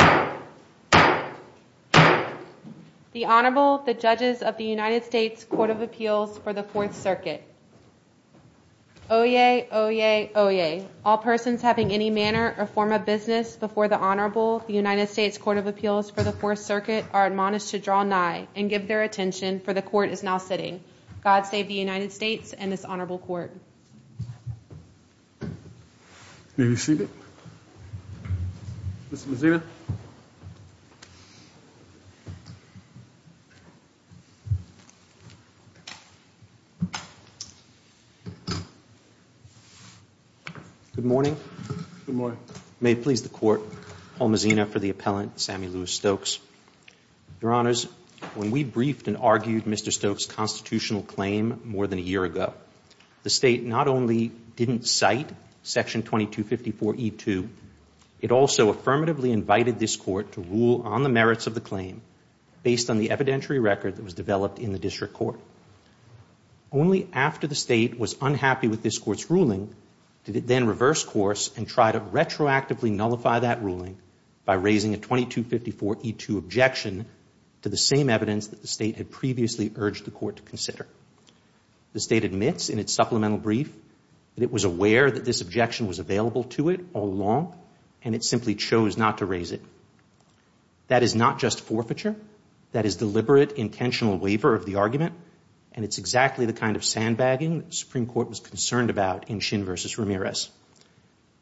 The Honorable, the Judges of the United States Court of Appeals for the Fourth Circuit. Oyez! Oyez! Oyez! All persons having any manner or form of business before the Honorable, the United States Court of Appeals for the Fourth Circuit, are admonished to draw nigh and give their attention, for the Court is now sitting. God save the United States and this Honorable Court. Mr. Mazina. Mr. Mazina. Good morning. Good morning. May it please the Court, Paul Mazina for the Appellant, Sammy Lewis Stokes. Your Honors, when we briefed and argued Mr. Stokes' constitutional claim more than a year ago, the State not only didn't cite section 2254E2, it also affirmatively invited this Court to rule on the merits of the claim based on the evidentiary record that was developed in the district court. Only after the State was unhappy with this Court's ruling did it then reverse course and try to retroactively nullify that ruling by raising a 2254E2 objection to the same evidence that the State had previously urged the Court to consider. The State admits in its supplemental brief that it was aware that this objection was available to it all along and it simply chose not to raise it. That is not just forfeiture. That is deliberate, intentional waiver of the argument, and it's exactly the kind of sandbagging the Supreme Court was concerned about in Shin v. Ramirez.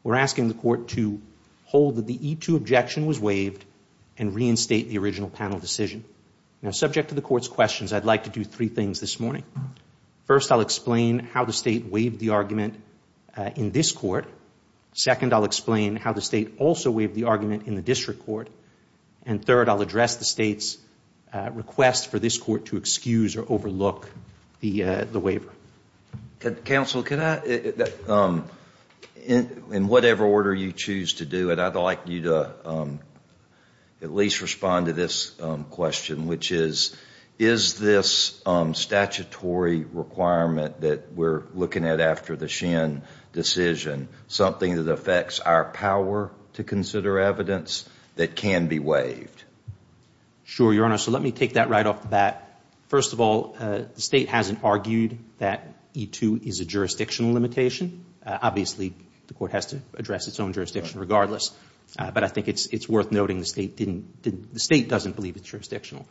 We're asking the Court to hold that the E2 objection was waived and reinstate the original panel decision. Now, subject to the Court's questions, I'd like to do three things this morning. First, I'll explain how the State waived the argument in this Court. Second, I'll explain how the State also waived the argument in the district court. And third, I'll address the State's request for this Court to excuse or overlook the waiver. Counsel, in whatever order you choose to do it, I'd like you to at least respond to this question, which is, is this statutory requirement that we're looking at after the Shin decision something that affects our power to consider evidence that can be waived? Sure, Your Honor. So let me take that right off the bat. First of all, the State hasn't argued that E2 is a jurisdictional limitation. Obviously, the Court has to address its own jurisdiction regardless. But I think it's worth noting the State didn't – the State doesn't believe it's jurisdictional.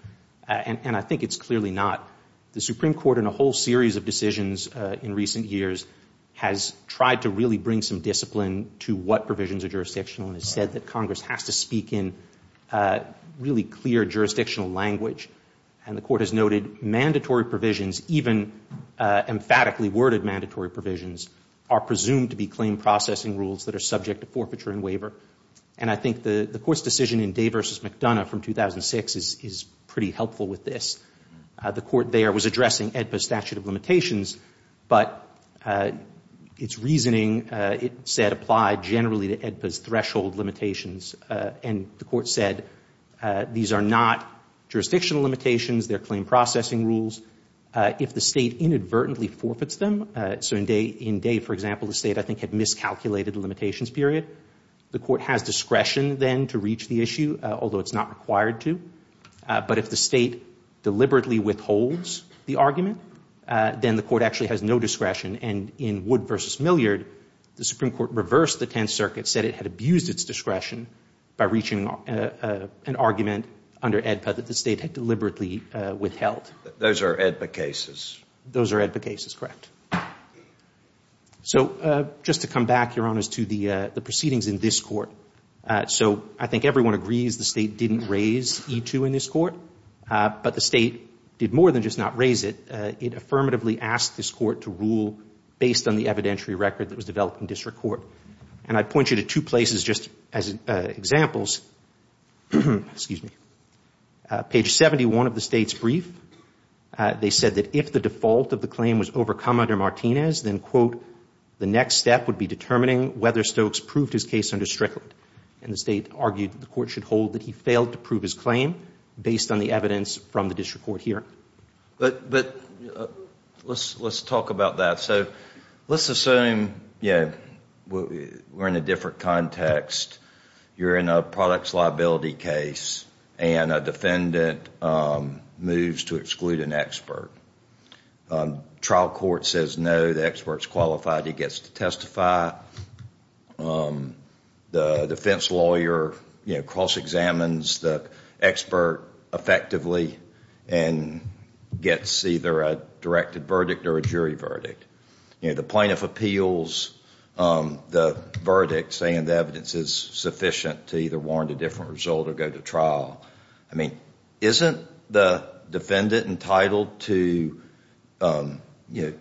And I think it's clearly not. The Supreme Court in a whole series of decisions in recent years has tried to really bring some discipline to what provisions are jurisdictional and has said that Congress has to speak in really clear jurisdictional language. And the Court has noted mandatory provisions, even emphatically worded mandatory provisions, are presumed to be claim processing rules that are subject to forfeiture and waiver. And I think the Court's decision in Day v. McDonough from 2006 is pretty helpful with this. The Court there was addressing AEDPA's statute of limitations, but its reasoning, it said, applied generally to AEDPA's threshold limitations. And the Court said these are not jurisdictional limitations. They're claim processing rules. If the State inadvertently forfeits them – so in Day, for example, the State, I think, had miscalculated the limitations period – the Court has discretion then to reach the issue, although it's not required to. But if the State deliberately withholds the argument, then the Court actually has no discretion. And in Wood v. Milliard, the Supreme Court reversed the Tenth Circuit, said it had abused its discretion by reaching an argument under AEDPA that the State had deliberately withheld. Those are AEDPA cases. Those are AEDPA cases, correct. So just to come back, Your Honors, to the proceedings in this Court. So I think everyone agrees the State didn't raise E-2 in this Court, but the State did more than just not raise it. It affirmatively asked this Court to rule based on the evidentiary record that was developed in district court. And I'd point you to two places just as examples. Excuse me. Page 71 of the State's brief, they said that if the default of the claim was overcome under Martinez, then, quote, the next step would be determining whether Stokes proved his case under Strickland. And the State argued the Court should hold that he failed to prove his claim based on the evidence from the district court hearing. But let's talk about that. So let's assume, you know, we're in a different context. You're in a products liability case and a defendant moves to exclude an expert. Trial court says no, the expert's qualified, he gets to testify. The defense lawyer, you know, cross-examines the expert effectively and gets either a directed verdict or a jury verdict. You know, the plaintiff appeals the verdict saying the evidence is sufficient to either warrant a different result or go to trial. I mean, isn't the defendant entitled to, you know,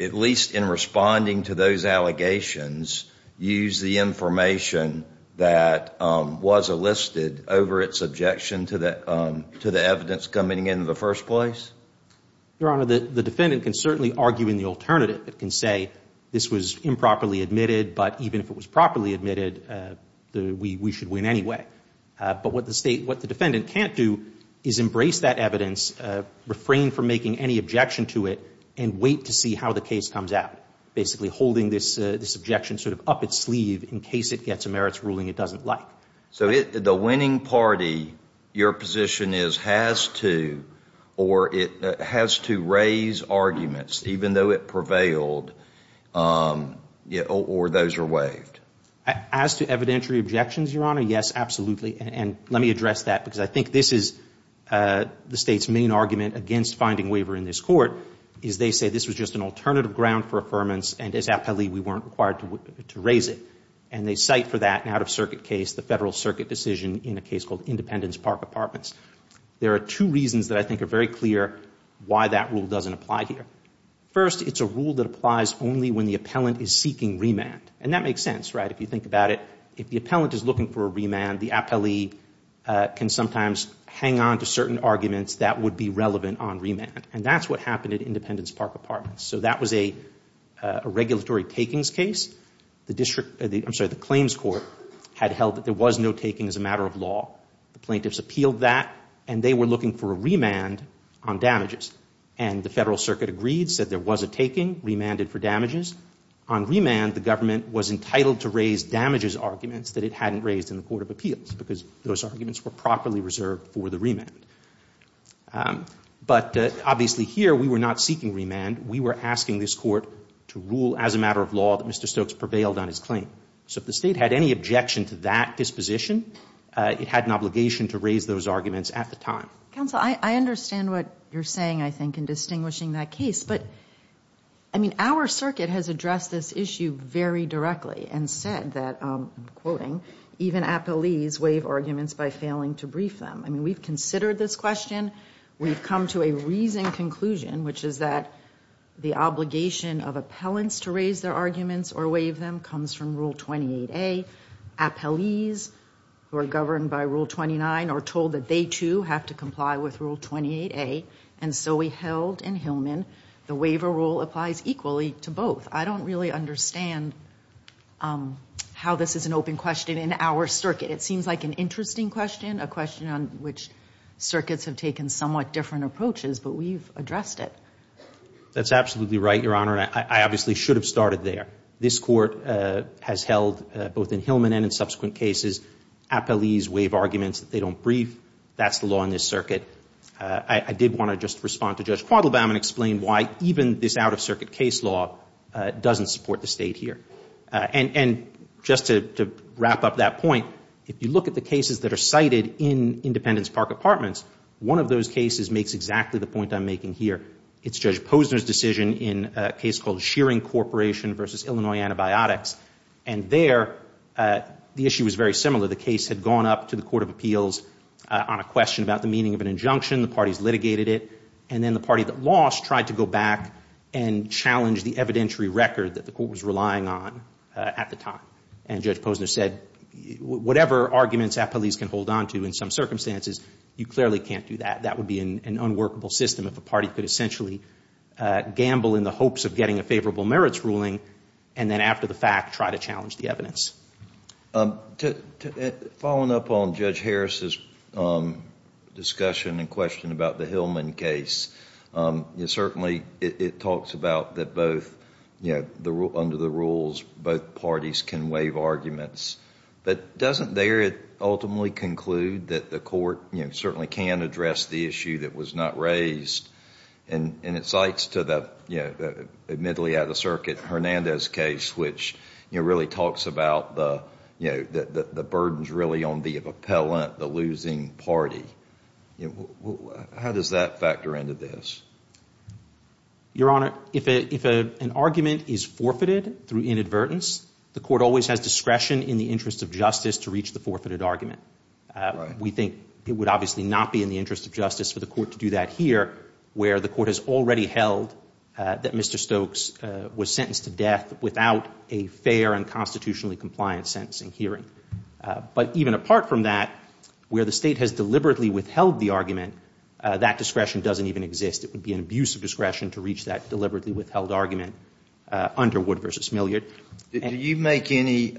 at least in responding to those allegations, use the information that was elicited over its objection to the evidence coming into the first place? Your Honor, the defendant can certainly argue in the alternative. It can say this was improperly admitted, but even if it was properly admitted, we should win anyway. But what the State, what the defendant can't do is embrace that evidence, refrain from making any objection to it, and wait to see how the case comes out, basically holding this objection sort of up its sleeve in case it gets a merits ruling it doesn't like. So the winning party, your position is, has to or it has to raise arguments even though it prevailed or those are waived. As to evidentiary objections, Your Honor, yes, absolutely. And let me address that because I think this is the State's main argument against finding waiver in this Court is they say this was just an alternative ground for affirmance and as appellee we weren't required to raise it. And they cite for that an out-of-circuit case, the Federal Circuit decision in a case called Independence Park Apartments. There are two reasons that I think are very clear why that rule doesn't apply here. First, it's a rule that applies only when the appellant is seeking remand. And that makes sense, right? If you think about it, if the appellant is looking for a remand, the appellee can sometimes hang on to certain arguments that would be relevant on remand. And that's what happened at Independence Park Apartments. So that was a regulatory takings case. The claims court had held that there was no taking as a matter of law. The plaintiffs appealed that and they were looking for a remand on damages. And the Federal Circuit agreed, said there was a taking, remanded for damages. On remand, the government was entitled to raise damages arguments that it hadn't reserved for the remand. But obviously here, we were not seeking remand. We were asking this court to rule as a matter of law that Mr. Stokes prevailed on his claim. So if the State had any objection to that disposition, it had an obligation to raise those arguments at the time. Counsel, I understand what you're saying, I think, in distinguishing that case. But, I mean, our circuit has addressed this issue very directly and said that, even appellees waive arguments by failing to brief them. I mean, we've considered this question. We've come to a reasoned conclusion, which is that the obligation of appellants to raise their arguments or waive them comes from Rule 28A. Appellees who are governed by Rule 29 are told that they, too, have to comply with Rule 28A. And so we held in Hillman the waiver rule applies equally to both. I don't really understand how this is an open question in our circuit. It seems like an interesting question, a question on which circuits have taken somewhat different approaches, but we've addressed it. That's absolutely right, Your Honor, and I obviously should have started there. This court has held, both in Hillman and in subsequent cases, appellees waive arguments that they don't brief. That's the law in this circuit. I did want to just respond to Judge Quattlebaum and explain why even this out-of-circuit case law doesn't support the State here. And just to wrap up that point, if you look at the cases that are cited in Independence Park Apartments, one of those cases makes exactly the point I'm making here. It's Judge Posner's decision in a case called Shearing Corporation v. Illinois Antibiotics, and there the issue was very similar. The case had gone up to the Court of Appeals on a question about the meaning of an injunction. The parties litigated it, and then the party that lost tried to go back and challenge the evidentiary record that the court was relying on at the time. And Judge Posner said, whatever arguments appellees can hold on to in some circumstances, you clearly can't do that. That would be an unworkable system if a party could essentially gamble in the hopes of getting a favorable merits ruling and then after the fact try to challenge the evidence. Following up on Judge Harris's discussion and question about the Hillman case, certainly it talks about that both, under the rules, both parties can waive arguments. But doesn't there it ultimately conclude that the court certainly can address the issue that was not raised? And it cites to the admittedly out-of-circuit Hernandez case, which really talks about the burdens really on the appellant, the losing party. How does that factor into this? Your Honor, if an argument is forfeited through inadvertence, the court always has discretion in the interest of justice to reach the forfeited argument. We think it would obviously not be in the interest of justice for the court to do that here, where the court has already held that Mr. Stokes was sentenced to death without a fair and constitutionally compliant sentencing hearing. But even apart from that, where the state has deliberately withheld the argument, that discretion doesn't even exist. It would be an abuse of discretion to reach that deliberately withheld argument under Wood v. Milliard. Did you make any,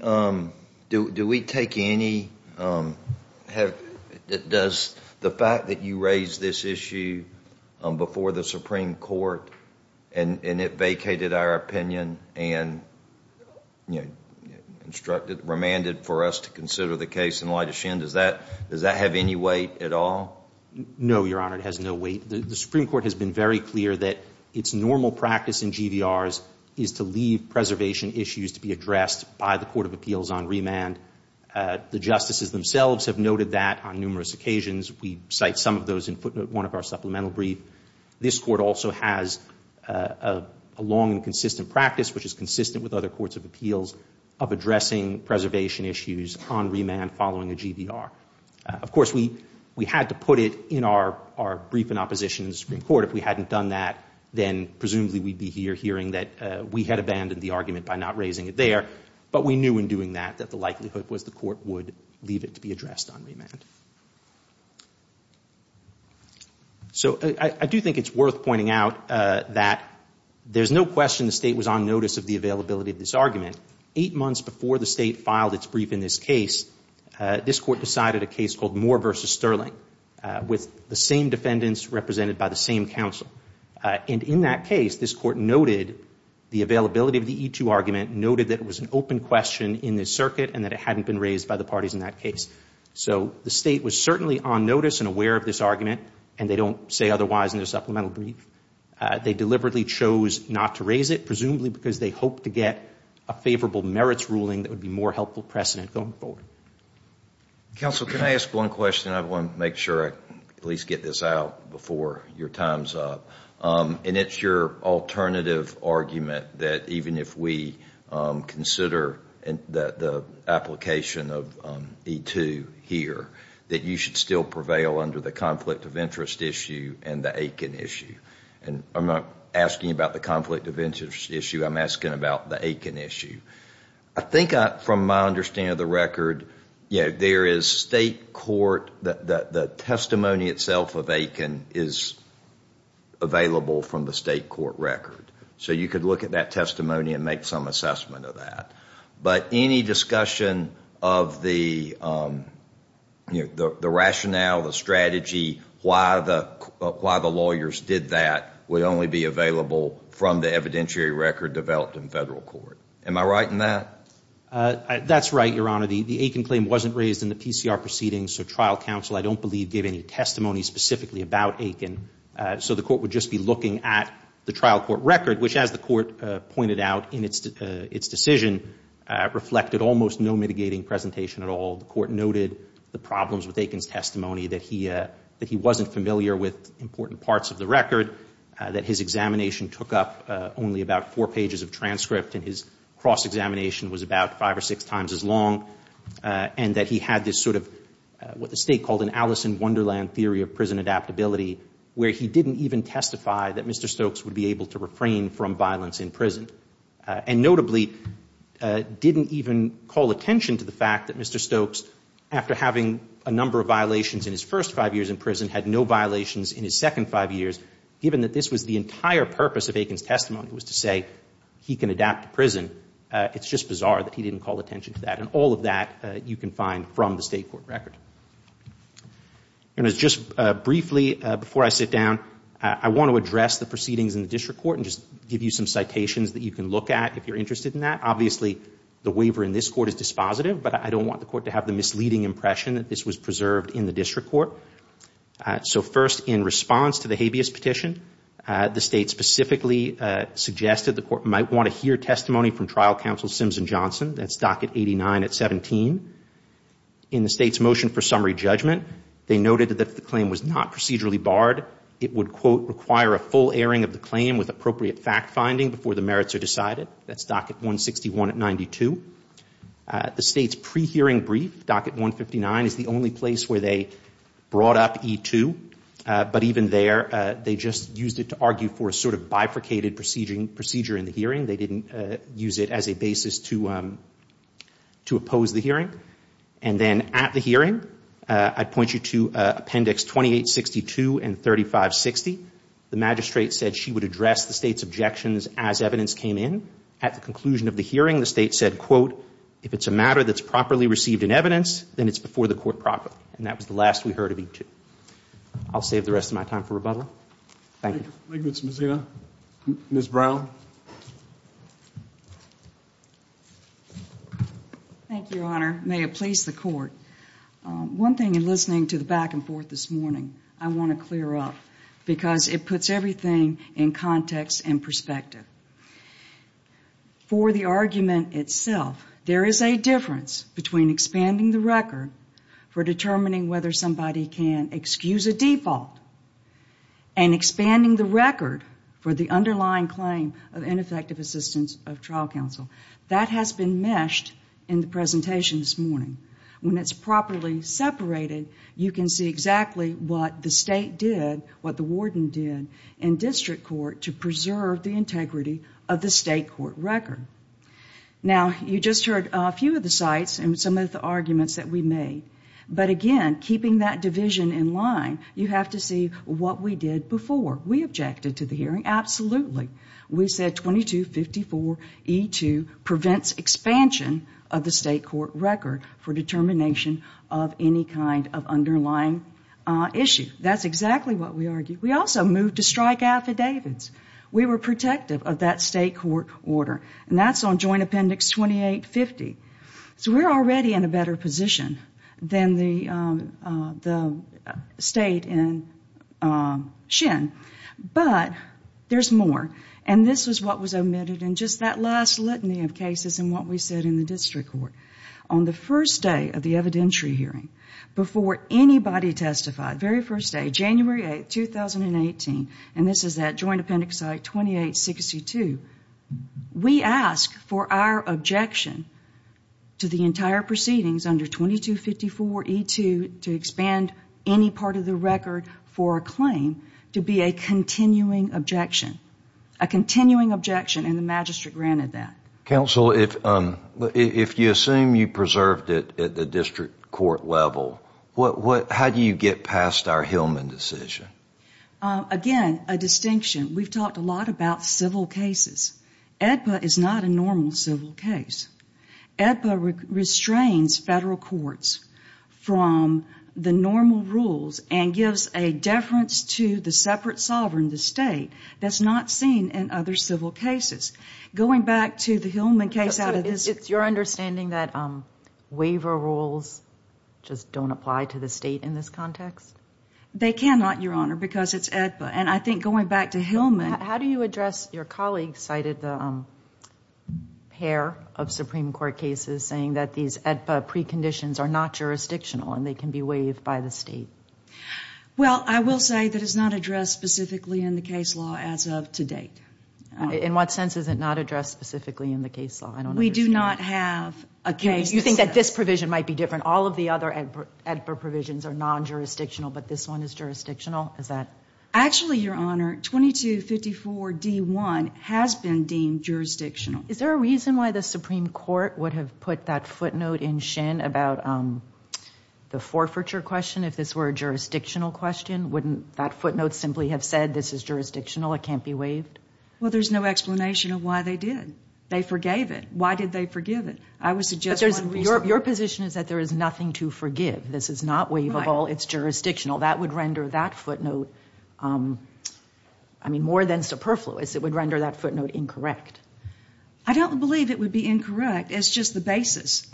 do we take any, does the fact that you raised this issue before the Supreme Court and it vacated our opinion and instructed, remanded for us to consider the case in light of Shin, does that have any weight at all? No, Your Honor, it has no weight. The Supreme Court has been very clear that its normal practice in GVRs is to leave preservation issues to be addressed by the Court of Appeals on remand. The justices themselves have noted that on numerous occasions. We cite some of those in footnote 1 of our supplemental brief. This court also has a long and consistent practice, which is consistent with other courts of appeals, of addressing preservation issues on remand following a GVR. Of course, we had to put it in our brief in opposition to the Supreme Court. If we hadn't done that, then presumably we'd be here hearing that we had abandoned the argument by not raising it there. But we knew in doing that that the likelihood was the court would leave it to be addressed on remand. So I do think it's worth pointing out that there's no question the State was on notice of the availability of this argument. Eight months before the State filed its brief in this case, this court decided a case called Moore v. Sterling with the same defendants represented by the same counsel. And in that case, this court noted the availability of the E2 argument, noted that it was an open question in the circuit and that it hadn't been raised by the parties in that case. So the State was certainly on notice and aware of this argument, and they don't say otherwise in their supplemental brief. They deliberately chose not to raise it, presumably because they hoped to get a favorable merits ruling that would be more helpful precedent going forward. Counsel, can I ask one question? I want to make sure I at least get this out before your time's up. And it's your alternative argument that even if we consider the application of E2 here, that you should still prevail under the conflict of interest issue and the Aiken issue. And I'm not asking about the conflict of interest issue. I'm asking about the Aiken issue. I think from my understanding of the record, you know, there is State court, the testimony itself of Aiken is available from the State court record. So you could look at that testimony and make some assessment of that. But any discussion of the rationale, the strategy, why the lawyers did that would only be available from the evidentiary record developed in federal court. Am I right in that? That's right, Your Honor. The Aiken claim wasn't raised in the PCR proceedings, so trial counsel I don't believe gave any testimony specifically about Aiken. So the court would just be looking at the trial court record, which as the court pointed out in its decision reflected almost no mitigating presentation at all. The court noted the problems with Aiken's testimony, that he wasn't familiar with important parts of the record, that his examination took up only about four pages of transcript and his cross-examination was about five or six times as long, and that he had this sort of what the State called an Alice in Wonderland theory of prison adaptability where he didn't even testify that Mr. Stokes would be able to adapt to prison, and notably didn't even call attention to the fact that Mr. Stokes, after having a number of violations in his first five years in prison, had no violations in his second five years. Given that this was the entire purpose of Aiken's testimony was to say he can adapt to prison, it's just bizarre that he didn't call attention to that. And all of that you can find from the State court record. And just briefly before I sit down, I want to address the proceedings in the case that you can look at if you're interested in that. Obviously, the waiver in this court is dispositive, but I don't want the court to have the misleading impression that this was preserved in the district court. So first, in response to the habeas petition, the State specifically suggested the court might want to hear testimony from trial counsel Simpson Johnson. That's docket 89 at 17. In the State's motion for summary judgment, they noted that if the claim was not procedurally barred, it would, quote, require a full airing of the claim with appropriate fact finding before the merits are decided. That's docket 161 at 92. The State's pre-hearing brief, docket 159, is the only place where they brought up E2. But even there, they just used it to argue for a sort of bifurcated procedure in the hearing. They didn't use it as a basis to oppose the hearing. And then at the hearing, I'd point you to appendix 2862 and 3560. The magistrate said she would address the State's objections as evidence came in. At the conclusion of the hearing, the State said, quote, if it's a matter that's properly received in evidence, then it's before the court properly. And that was the last we heard of E2. I'll save the rest of my time for rebuttal. Thank you. MS. BROWN. Thank you, Your Honor. May it please the Court. One thing in listening to the back and forth this morning, I want to clear up because it puts everything in context and perspective. For the argument itself, there is a difference between expanding the record for determining whether somebody can excuse a default and expanding the record for the underlying claim of ineffective assistance of trial counsel. That has been meshed in the presentation this morning. When it's properly separated, you can see exactly what the State did, what the warden did in district court to preserve the integrity of the State court record. Now, you just heard a few of the sites and some of the arguments that we made. But, again, keeping that division in line, you have to see what we did before. We objected to the hearing, absolutely. We said 2254E2 prevents expansion of the State court record for determination of any kind of underlying issue. That's exactly what we argued. We also moved to strike affidavits. We were protective of that State court order. And that's on Joint Appendix 2850. But there's more, and this is what was omitted in just that last litany of cases and what we said in the district court. On the first day of the evidentiary hearing, before anybody testified, very first day, January 8th, 2018, and this is that Joint Appendix site 2862, we asked for our objection to the entire proceedings under 2254E2 to expand any part of the record for a claim to be a continuing objection, a continuing objection, and the magistrate granted that. Counsel, if you assume you preserved it at the district court level, how do you get past our Hillman decision? Again, a distinction. We've talked a lot about civil cases. AEDPA is not a normal civil case. AEDPA restrains federal courts from the normal rules and gives a deference to the separate sovereign, the State, that's not seen in other civil cases. Going back to the Hillman case out of this. It's your understanding that waiver rules just don't apply to the State in this context? They cannot, Your Honor, because it's AEDPA. And I think going back to Hillman. How do you address your colleague cited pair of Supreme Court cases saying that these AEDPA preconditions are not jurisdictional and they can be waived by the State? Well, I will say that it's not addressed specifically in the case law as of to date. In what sense is it not addressed specifically in the case law? We do not have a case. You think that this provision might be different. All of the other AEDPA provisions are non-jurisdictional, but this one is jurisdictional? Actually, Your Honor, 2254D1 has been deemed jurisdictional. Is there a reason why the Supreme Court would have put that footnote in Shin about the forfeiture question if this were a jurisdictional question? Wouldn't that footnote simply have said this is jurisdictional, it can't be waived? Well, there's no explanation of why they did. They forgave it. Why did they forgive it? Your position is that there is nothing to forgive. This is not waivable. It's jurisdictional. That would render that footnote, I mean, more than superfluous. It would render that footnote incorrect. I don't believe it would be incorrect. It's just the basis.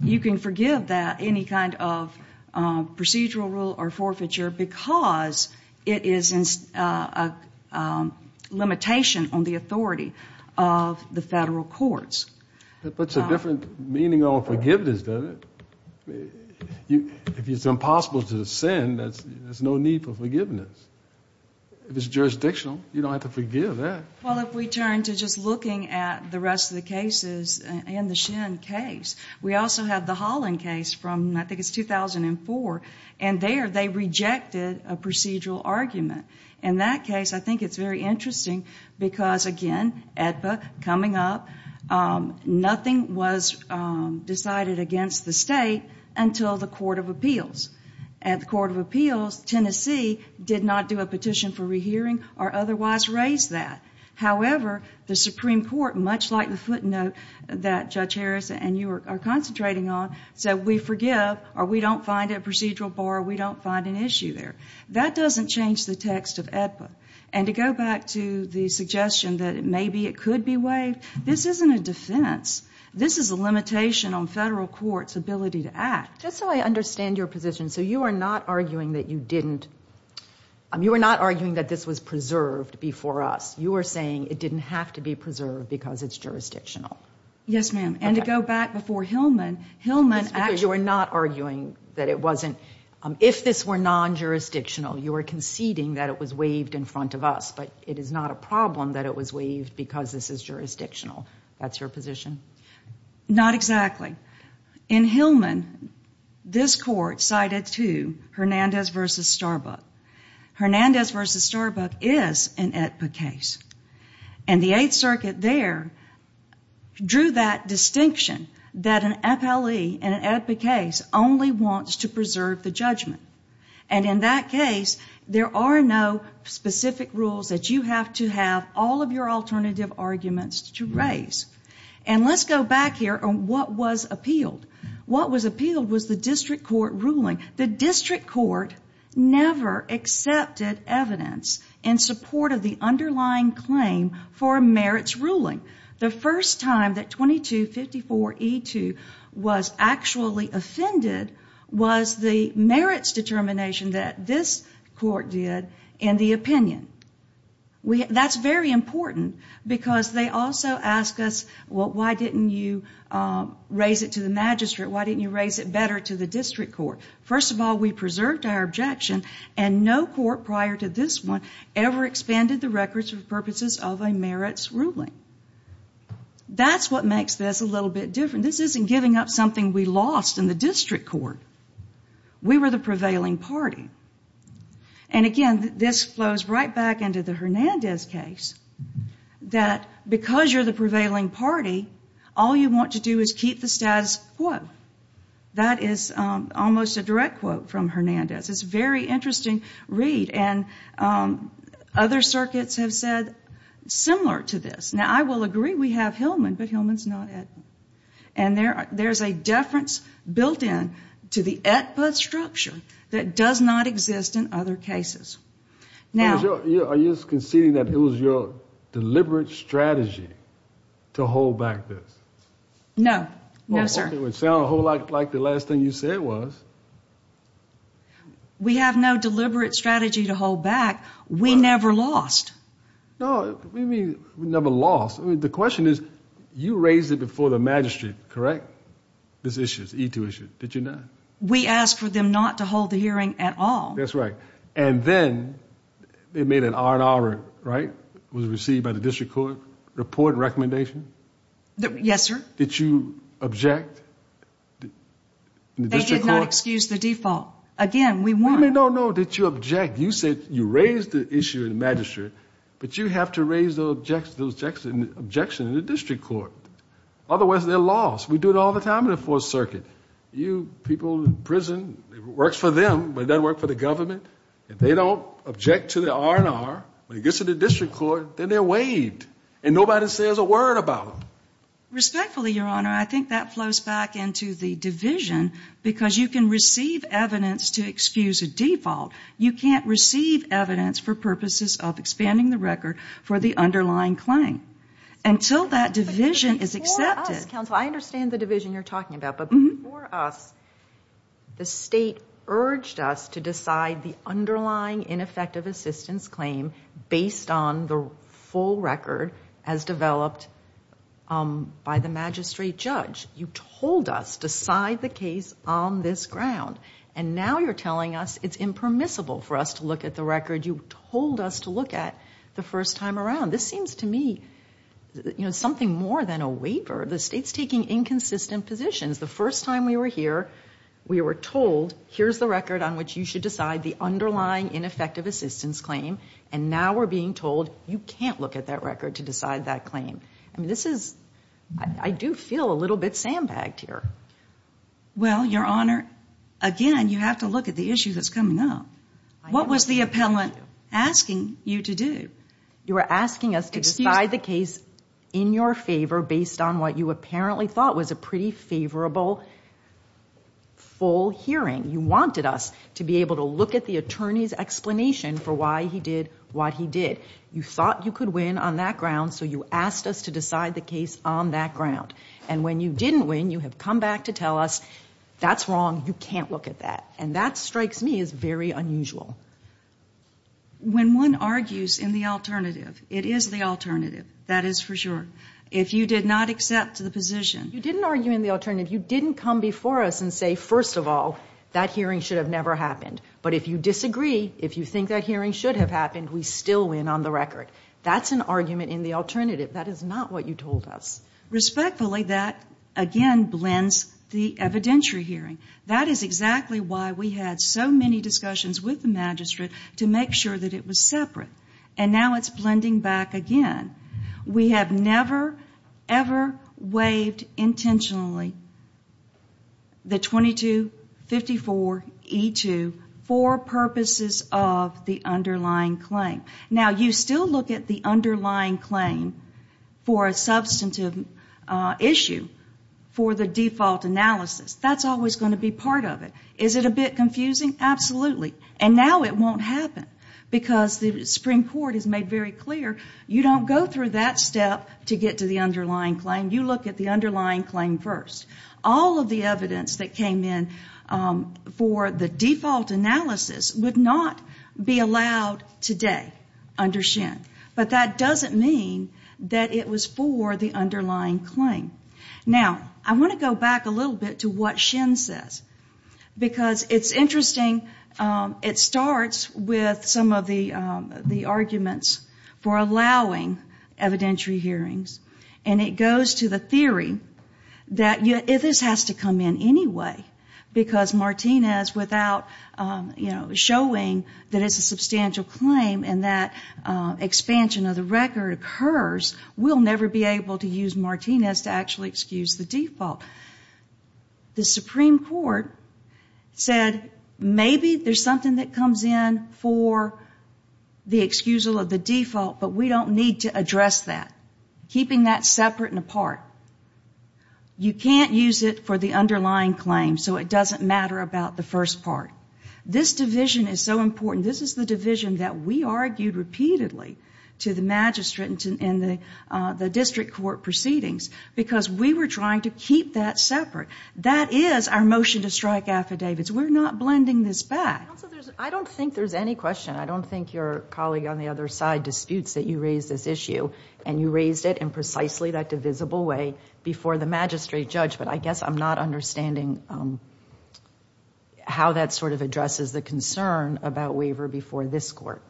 You can forgive that, any kind of procedural rule or forfeiture, because it is a limitation on the authority of the federal courts. That puts a different meaning on forgiveness, doesn't it? If it's impossible to send, there's no need for forgiveness. If it's jurisdictional, you don't have to forgive that. Well, if we turn to just looking at the rest of the cases and the Shin case, we also have the Holland case from, I think it's 2004, and there they rejected a procedural argument. In that case, I think it's very interesting because, again, EDPA coming up, nothing was decided against the state until the Court of Appeals. At the Court of Appeals, Tennessee did not do a petition for rehearing or otherwise raise that. However, the Supreme Court, much like the footnote that Judge Harris and you are concentrating on, said we forgive or we don't find a procedural bar or we don't find an issue there. That doesn't change the text of EDPA. And to go back to the suggestion that maybe it could be waived, this isn't a defense. This is a limitation on federal courts' ability to act. Just so I understand your position, so you are not arguing that you didn't, you are not arguing that this was preserved before us. You are saying it didn't have to be preserved because it's jurisdictional. Yes, ma'am. And to go back before Hillman, Hillman actually. You are not arguing that it wasn't. If this were non-jurisdictional, you are conceding that it was waived in front of us, but it is not a problem that it was waived because this is jurisdictional. That's your position? Not exactly. In Hillman, this Court cited two, Hernandez v. Starbuck. Hernandez v. Starbuck is an EDPA case. And the Eighth Circuit there drew that distinction that an appellee in an EDPA case only wants to preserve the judgment. And in that case, there are no specific rules that you have to have all of your alternative arguments to raise. And let's go back here on what was appealed. What was appealed was the district court ruling. The district court never accepted evidence in support of the underlying claim for a merits ruling. The first time that 2254E2 was actually offended was the merits determination that this court did in the opinion. That's very important because they also ask us, well, why didn't you raise it to the magistrate? Why didn't you raise it better to the district court? First of all, we preserved our objection, and no court prior to this one ever expanded the records for purposes of a merits ruling. That's what makes this a little bit different. This isn't giving up something we lost in the district court. We were the prevailing party. And again, this flows right back into the Hernandez case that because you're the prevailing party, all you want to do is keep the status quo. That is almost a direct quote from Hernandez. It's a very interesting read. And other circuits have said similar to this. Now, I will agree we have Hillman, but Hillman's not at. And there's a deference built into the structure that does not exist in other cases. Are you conceding that it was your deliberate strategy to hold back this? No. No, sir. It would sound a whole lot like the last thing you said was. We have no deliberate strategy to hold back. We never lost. No, we never lost. The question is, you raised it before the magistrate, correct? This issue, this E-2 issue. Did you not? We asked for them not to hold the hearing at all. That's right. And then they made an R and R, right? It was received by the district court. Report and recommendation? Yes, sir. Did you object? They did not excuse the default. Again, we won. No, no. Did you object? You said you raised the issue in the magistrate, but you have to raise the objection in the district court. Otherwise, they're lost. We do it all the time in the Fourth Circuit. You people in prison, it works for them, but it doesn't work for the government. If they don't object to the R and R, when it gets to the district court, then they're waived. And nobody says a word about them. Respectfully, Your Honor, I think that flows back into the division because you can receive evidence to excuse a default. You can't receive evidence for purposes of expanding the record for the underlying claim until that division is accepted. Before us, counsel, I understand the division you're talking about. But before us, the state urged us to decide the underlying ineffective assistance claim based on the full record as developed by the magistrate judge. You told us, decide the case on this ground. And now you're telling us it's impermissible for us to look at the record you told us to look at the first time around. This seems to me, you know, something more than a waiver. The state's taking inconsistent positions. The first time we were here, we were told, here's the record on which you should decide the underlying ineffective assistance claim. And now we're being told, you can't look at that record to decide that claim. I mean, this is, I do feel a little bit sandbagged here. Well, Your Honor, again, you have to look at the issue that's coming up. What was the appellant asking you to do? You were asking us to decide the case in your favor based on what you apparently thought was a pretty favorable full hearing. You wanted us to be able to look at the attorney's explanation for why he did what he did. You thought you could win on that ground, so you asked us to decide the case on that ground. And when you didn't win, you have come back to tell us, that's wrong, you can't look at that. And that strikes me as very unusual. When one argues in the alternative, it is the alternative, that is for sure. If you did not accept the position. You didn't argue in the alternative. You didn't come before us and say, first of all, that hearing should have never happened. But if you disagree, if you think that hearing should have happened, we still win on the record. That's an argument in the alternative. That is not what you told us. Respectfully, that again blends the evidentiary hearing. That is exactly why we had so many discussions with the magistrate to make sure that it was separate. And now it's blending back again. We have never, ever waived intentionally the 2254E2 for purposes of the underlying claim. Now, you still look at the underlying claim for a substantive issue for the default analysis. That's always going to be part of it. Is it a bit confusing? Absolutely. And now it won't happen. Because the Supreme Court has made very clear, you don't go through that step to get to the underlying claim. You look at the underlying claim first. All of the evidence that came in for the default analysis would not be allowed today under SHIN. But that doesn't mean that it was for the underlying claim. Now, I want to go back a little bit to what SHIN says. Because it's interesting. It starts with some of the arguments for allowing evidentiary hearings. And it goes to the theory that this has to come in anyway. Because Martinez, without showing that it's a substantial claim and that expansion of the record occurs, will never be able to use Martinez to actually excuse the default. The Supreme Court said, maybe there's something that comes in for the excusal of the default, but we don't need to address that, keeping that separate and apart. You can't use it for the underlying claim, so it doesn't matter about the first part. This division is so important. This is the division that we argued repeatedly to the magistrate and the district court proceedings because we were trying to keep that separate. That is our motion to strike affidavits. We're not blending this back. I don't think there's any question. I don't think your colleague on the other side disputes that you raised this issue. And you raised it in precisely that divisible way before the magistrate judge. But I guess I'm not understanding how that sort of addresses the concern about waiver before this court.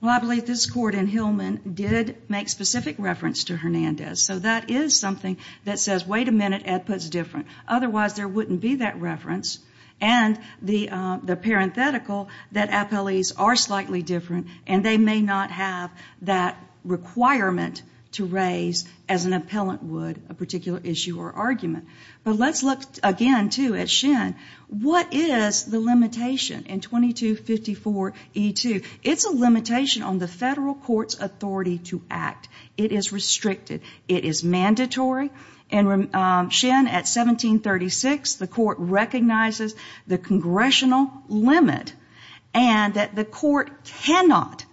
Well, I believe this court in Hillman did make specific reference to Hernandez. So that is something that says, wait a minute, Ed put it different. Otherwise, there wouldn't be that reference. And the parenthetical that appellees are slightly different and they may not have that requirement to raise as an appellant would a particular issue or argument. But let's look again, too, at Schen. What is the limitation in 2254E2? It's a limitation on the federal court's authority to act. It is restricted. It is mandatory. In Schen at 1736, the court recognizes the congressional limit and that the court cannot,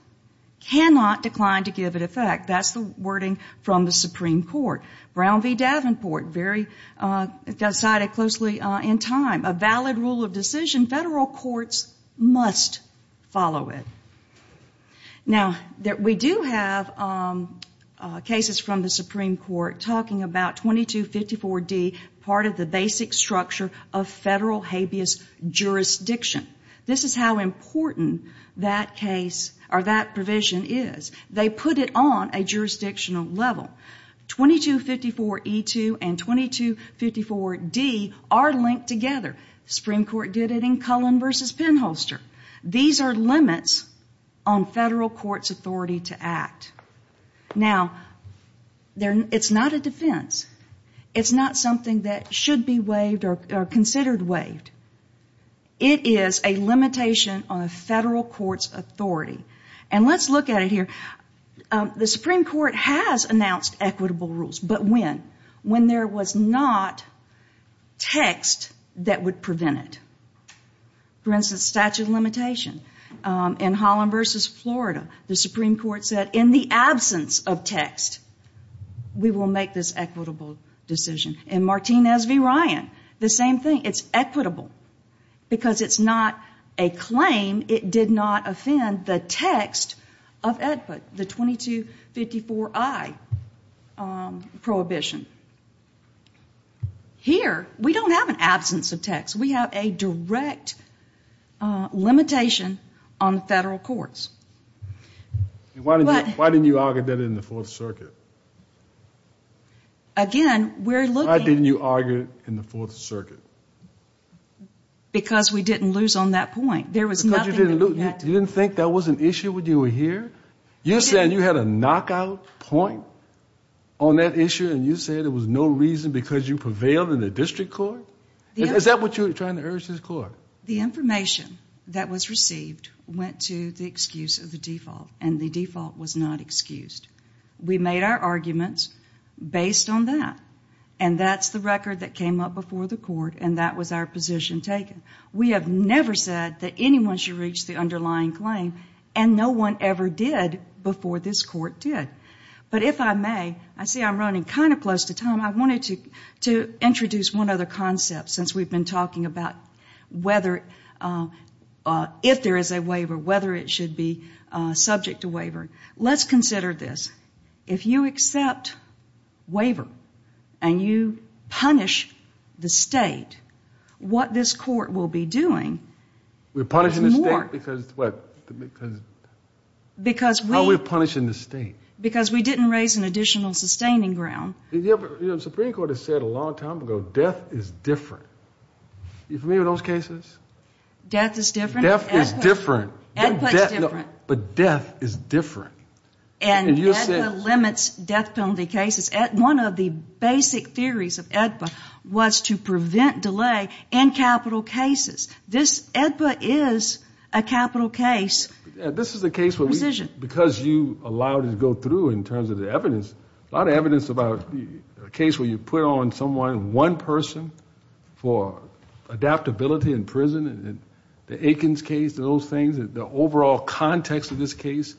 cannot decline to give it effect. That's the wording from the Supreme Court. Brown v. Davenport, very cited closely in time, a valid rule of decision, federal courts must follow it. Now, we do have cases from the Supreme Court talking about 2254D, part of the basic structure of federal habeas jurisdiction. This is how important that provision is. They put it on a jurisdictional level. 2254E2 and 2254D are linked together. The Supreme Court did it in Cullen v. Penholster. These are limits on federal court's authority to act. Now, it's not a defense. It's not something that should be waived or considered waived. It is a limitation on a federal court's authority. And let's look at it here. The Supreme Court has announced equitable rules, but when? When there was not text that would prevent it. For instance, statute of limitation. In Holland v. Florida, the Supreme Court said, in the absence of text, we will make this equitable decision. In Martinez v. Ryan, the same thing. It's equitable because it's not a claim. It did not offend the text of EDPA, the 2254I prohibition. Here, we don't have an absence of text. We have a direct limitation on federal courts. Why didn't you argue that in the Fourth Circuit? Again, we're looking. Why didn't you argue it in the Fourth Circuit? Because we didn't lose on that point. You didn't think that was an issue when you were here? You said you had a knockout point on that issue, and you said there was no reason because you prevailed in the district court? Is that what you were trying to urge this court? The information that was received went to the excuse of the default, and the default was not excused. We made our arguments based on that, and that's the record that came up before the court, and that was our position taken. We have never said that anyone should reach the underlying claim, and no one ever did before this court did. But if I may, I see I'm running kind of close to time. I wanted to introduce one other concept since we've been talking about whether if there is a waiver, whether it should be subject to waiver. Let's consider this. If you accept waiver and you punish the State, what this court will be doing is more. We're punishing the State because what? How are we punishing the State? Because we didn't raise an additional sustaining ground. The Supreme Court has said a long time ago death is different. Are you familiar with those cases? Death is different? Death is different. EDPA is different. But death is different. And EDPA limits death penalty cases. One of the basic theories of EDPA was to prevent delay in capital cases. This EDPA is a capital case. There's a lot of evidence about a case where you put on someone, one person, for adaptability in prison. The Aikens case, those things, the overall context of this case,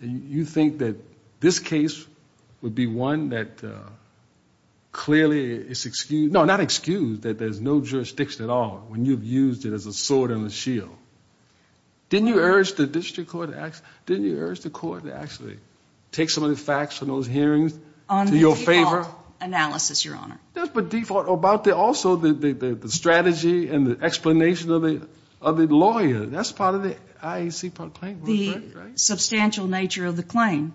you think that this case would be one that clearly is excused. No, not excused, that there's no jurisdiction at all when you've used it as a sword and a shield. Didn't you urge the district court to actually take some of the facts from those hearings to your favor? On the default analysis, Your Honor. Yes, but default. Also, the strategy and the explanation of the lawyer, that's part of the IAC claim, right? The substantial nature of the claim.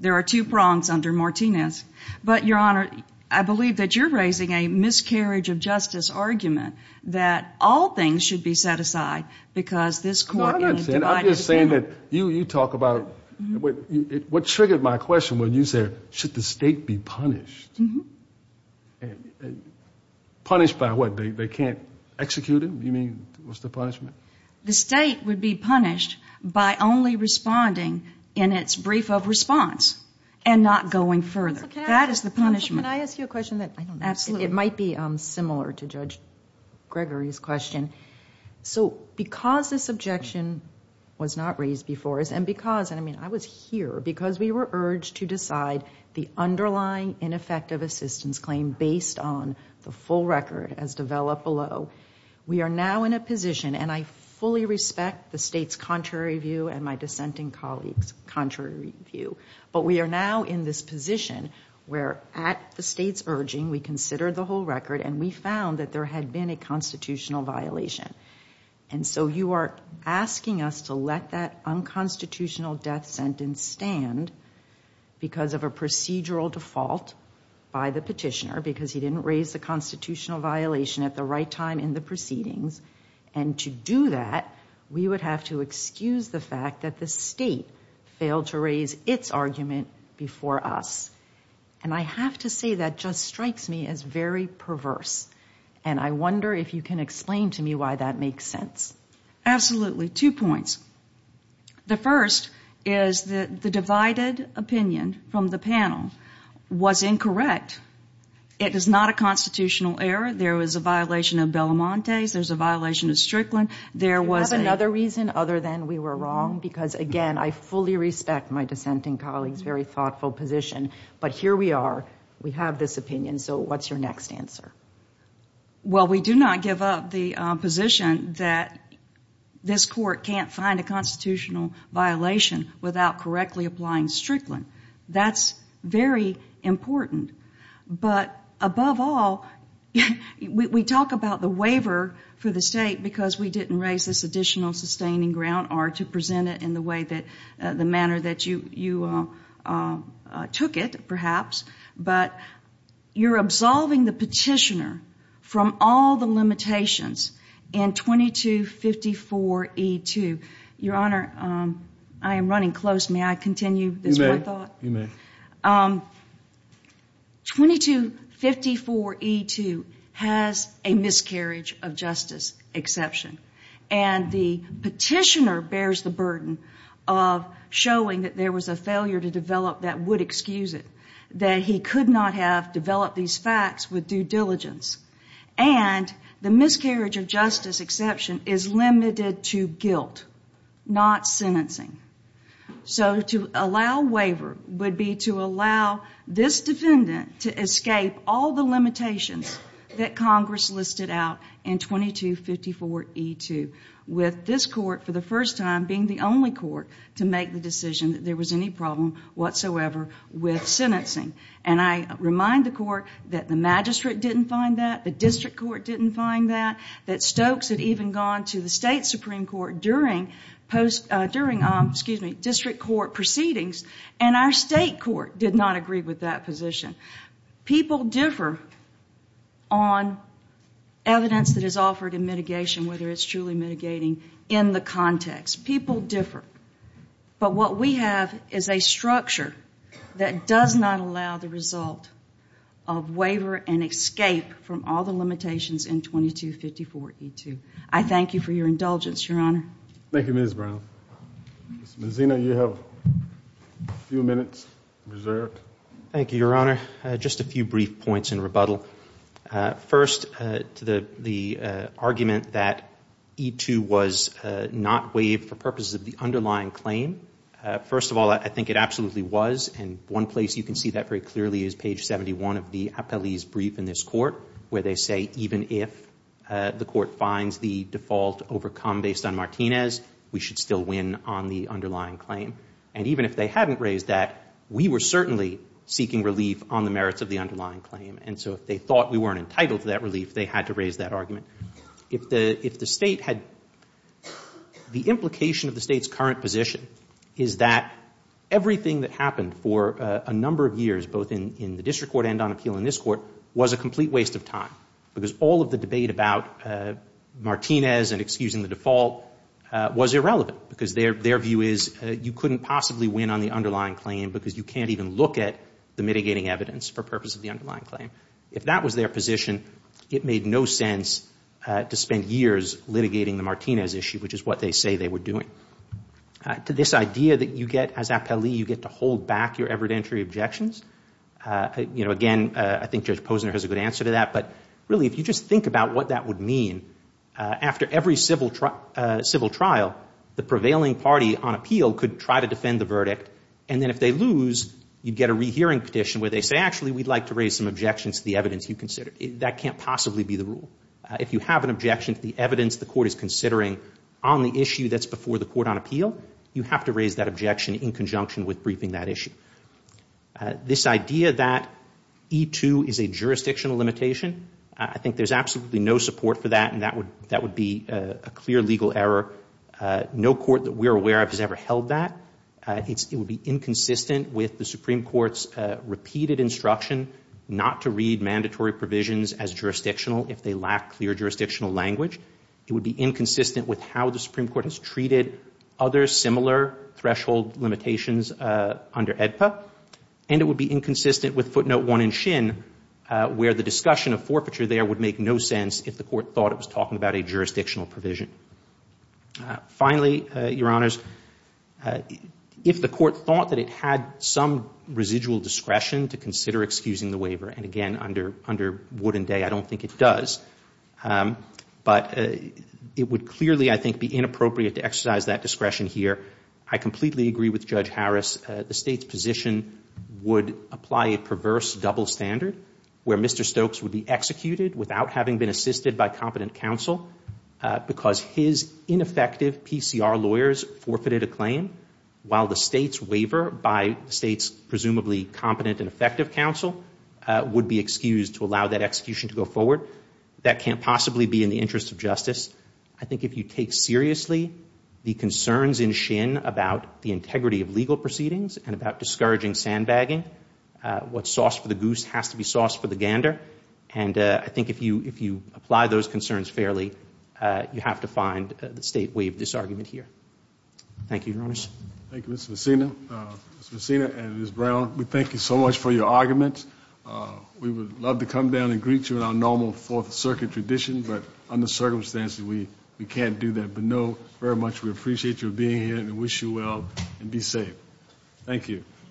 There are two prongs under Martinez. But, Your Honor, I believe that you're raising a miscarriage of justice argument that all things should be set aside because this court is divided. I'm just saying that you talk about what triggered my question when you said, should the state be punished? Punished by what? They can't execute him? You mean, what's the punishment? The state would be punished by only responding in its brief of response and not going further. That is the punishment. Can I ask you a question? Absolutely. It might be similar to Judge Gregory's question. Because this objection was not raised before, and I was here because we were urged to decide the underlying ineffective assistance claim based on the full record as developed below, we are now in a position, and I fully respect the state's contrary view and my dissenting colleagues' contrary view, and we found that there had been a constitutional violation. And so you are asking us to let that unconstitutional death sentence stand because of a procedural default by the petitioner, because he didn't raise the constitutional violation at the right time in the proceedings, and to do that, we would have to excuse the fact that the state failed to raise its argument before us. And I have to say that just strikes me as very perverse, and I wonder if you can explain to me why that makes sense. Absolutely. Two points. The first is that the divided opinion from the panel was incorrect. It is not a constitutional error. There was a violation of Belamonte's. There's a violation of Strickland. There was another reason other than we were wrong, because, again, I fully respect my dissenting colleagues' very thoughtful position, but here we are. We have this opinion, so what's your next answer? Well, we do not give up the position that this court can't find a constitutional violation without correctly applying Strickland. That's very important. But above all, we talk about the waiver for the state because we didn't raise this additional sustaining ground, or to present it in the manner that you took it, perhaps, but you're absolving the petitioner from all the limitations in 2254E2. Your Honor, I am running close. May I continue this one thought? You may. 2254E2 has a miscarriage of justice exception, and the petitioner bears the burden of showing that there was a failure to develop that would excuse it, that he could not have developed these facts with due diligence, and the miscarriage of justice exception is limited to guilt, not sentencing. So to allow waiver would be to allow this defendant to escape all the limitations that Congress listed out in 2254E2, with this court, for the first time, being the only court to make the decision that there was any problem whatsoever with sentencing. And I remind the court that the magistrate didn't find that, the district court didn't find that, that Stokes had even gone to the state Supreme Court during district court proceedings, and our state court did not agree with that position. People differ on evidence that is offered in mitigation, whether it's truly mitigating, in the context. People differ. But what we have is a structure that does not allow the result of waiver and escape from all the limitations in 2254E2. I thank you for your indulgence, Your Honor. Thank you, Ms. Brown. Ms. Mazzino, you have a few minutes reserved. Thank you, Your Honor. Just a few brief points in rebuttal. First, the argument that E2 was not waived for purposes of the underlying claim, first of all, I think it absolutely was, and one place you can see that very clearly is page 71 of the appellee's brief in this court, where they say even if the court finds the default overcome based on Martinez, we should still win on the underlying claim. And even if they hadn't raised that, we were certainly seeking relief on the merits of the underlying claim. And so if they thought we weren't entitled to that relief, they had to raise that argument. If the State had the implication of the State's current position is that everything that happened for a number of years, both in the district court and on appeal in this court, was a complete waste of time, because all of the debate about Martinez and excusing the default was irrelevant, because their view is you couldn't possibly win on the underlying claim because you can't even look at the mitigating evidence for purposes of the underlying claim. If that was their position, it made no sense to spend years litigating the Martinez issue, which is what they say they were doing. To this idea that you get as appellee, you get to hold back your evidentiary objections, again, I think Judge Posner has a good answer to that, but really if you just think about what that would mean, after every civil trial, the prevailing party on appeal could try to defend the verdict, and then if they lose, you'd get a rehearing petition where they say, actually, we'd like to raise some objections to the evidence you considered. That can't possibly be the rule. If you have an objection to the evidence the court is considering on the issue that's before the court on appeal, you have to raise that objection in conjunction with briefing that issue. This idea that E2 is a jurisdictional limitation, I think there's absolutely no support for that, and that would be a clear legal error. No court that we're aware of has ever held that. It would be inconsistent with the Supreme Court's repeated instruction not to read mandatory provisions as jurisdictional if they lack clear jurisdictional language. It would be inconsistent with how the Supreme Court has treated other similar threshold limitations under AEDPA, and it would be inconsistent with footnote 1 in Shin, where the discussion of forfeiture there would make no sense if the court thought it was talking about a jurisdictional provision. Finally, Your Honors, if the court thought that it had some residual discretion to consider excusing the waiver, and again, under Wood and Day, I don't think it does, but it would clearly, I think, be inappropriate to exercise that discretion here. I completely agree with Judge Harris. The State's position would apply a perverse double standard where Mr. Stokes would be executed without having been assisted by competent counsel because his ineffective PCR lawyers forfeited a claim while the State's waiver by the State's presumably competent and effective counsel would be excused to allow that execution to go forward. That can't possibly be in the interest of justice. I think if you take seriously the concerns in Shin about the integrity of legal proceedings and about discouraging sandbagging, what's sauce for the goose has to be sauce for the gander, and I think if you apply those concerns fairly, you have to find the State way of this argument here. Thank you, Your Honors. Thank you, Mr. Messina. Mr. Messina and Ms. Brown, we thank you so much for your argument. We would love to come down and greet you in our normal Fourth Circuit tradition, but under circumstances, we can't do that. But, no, very much we appreciate you being here and wish you well and be safe. Thank you.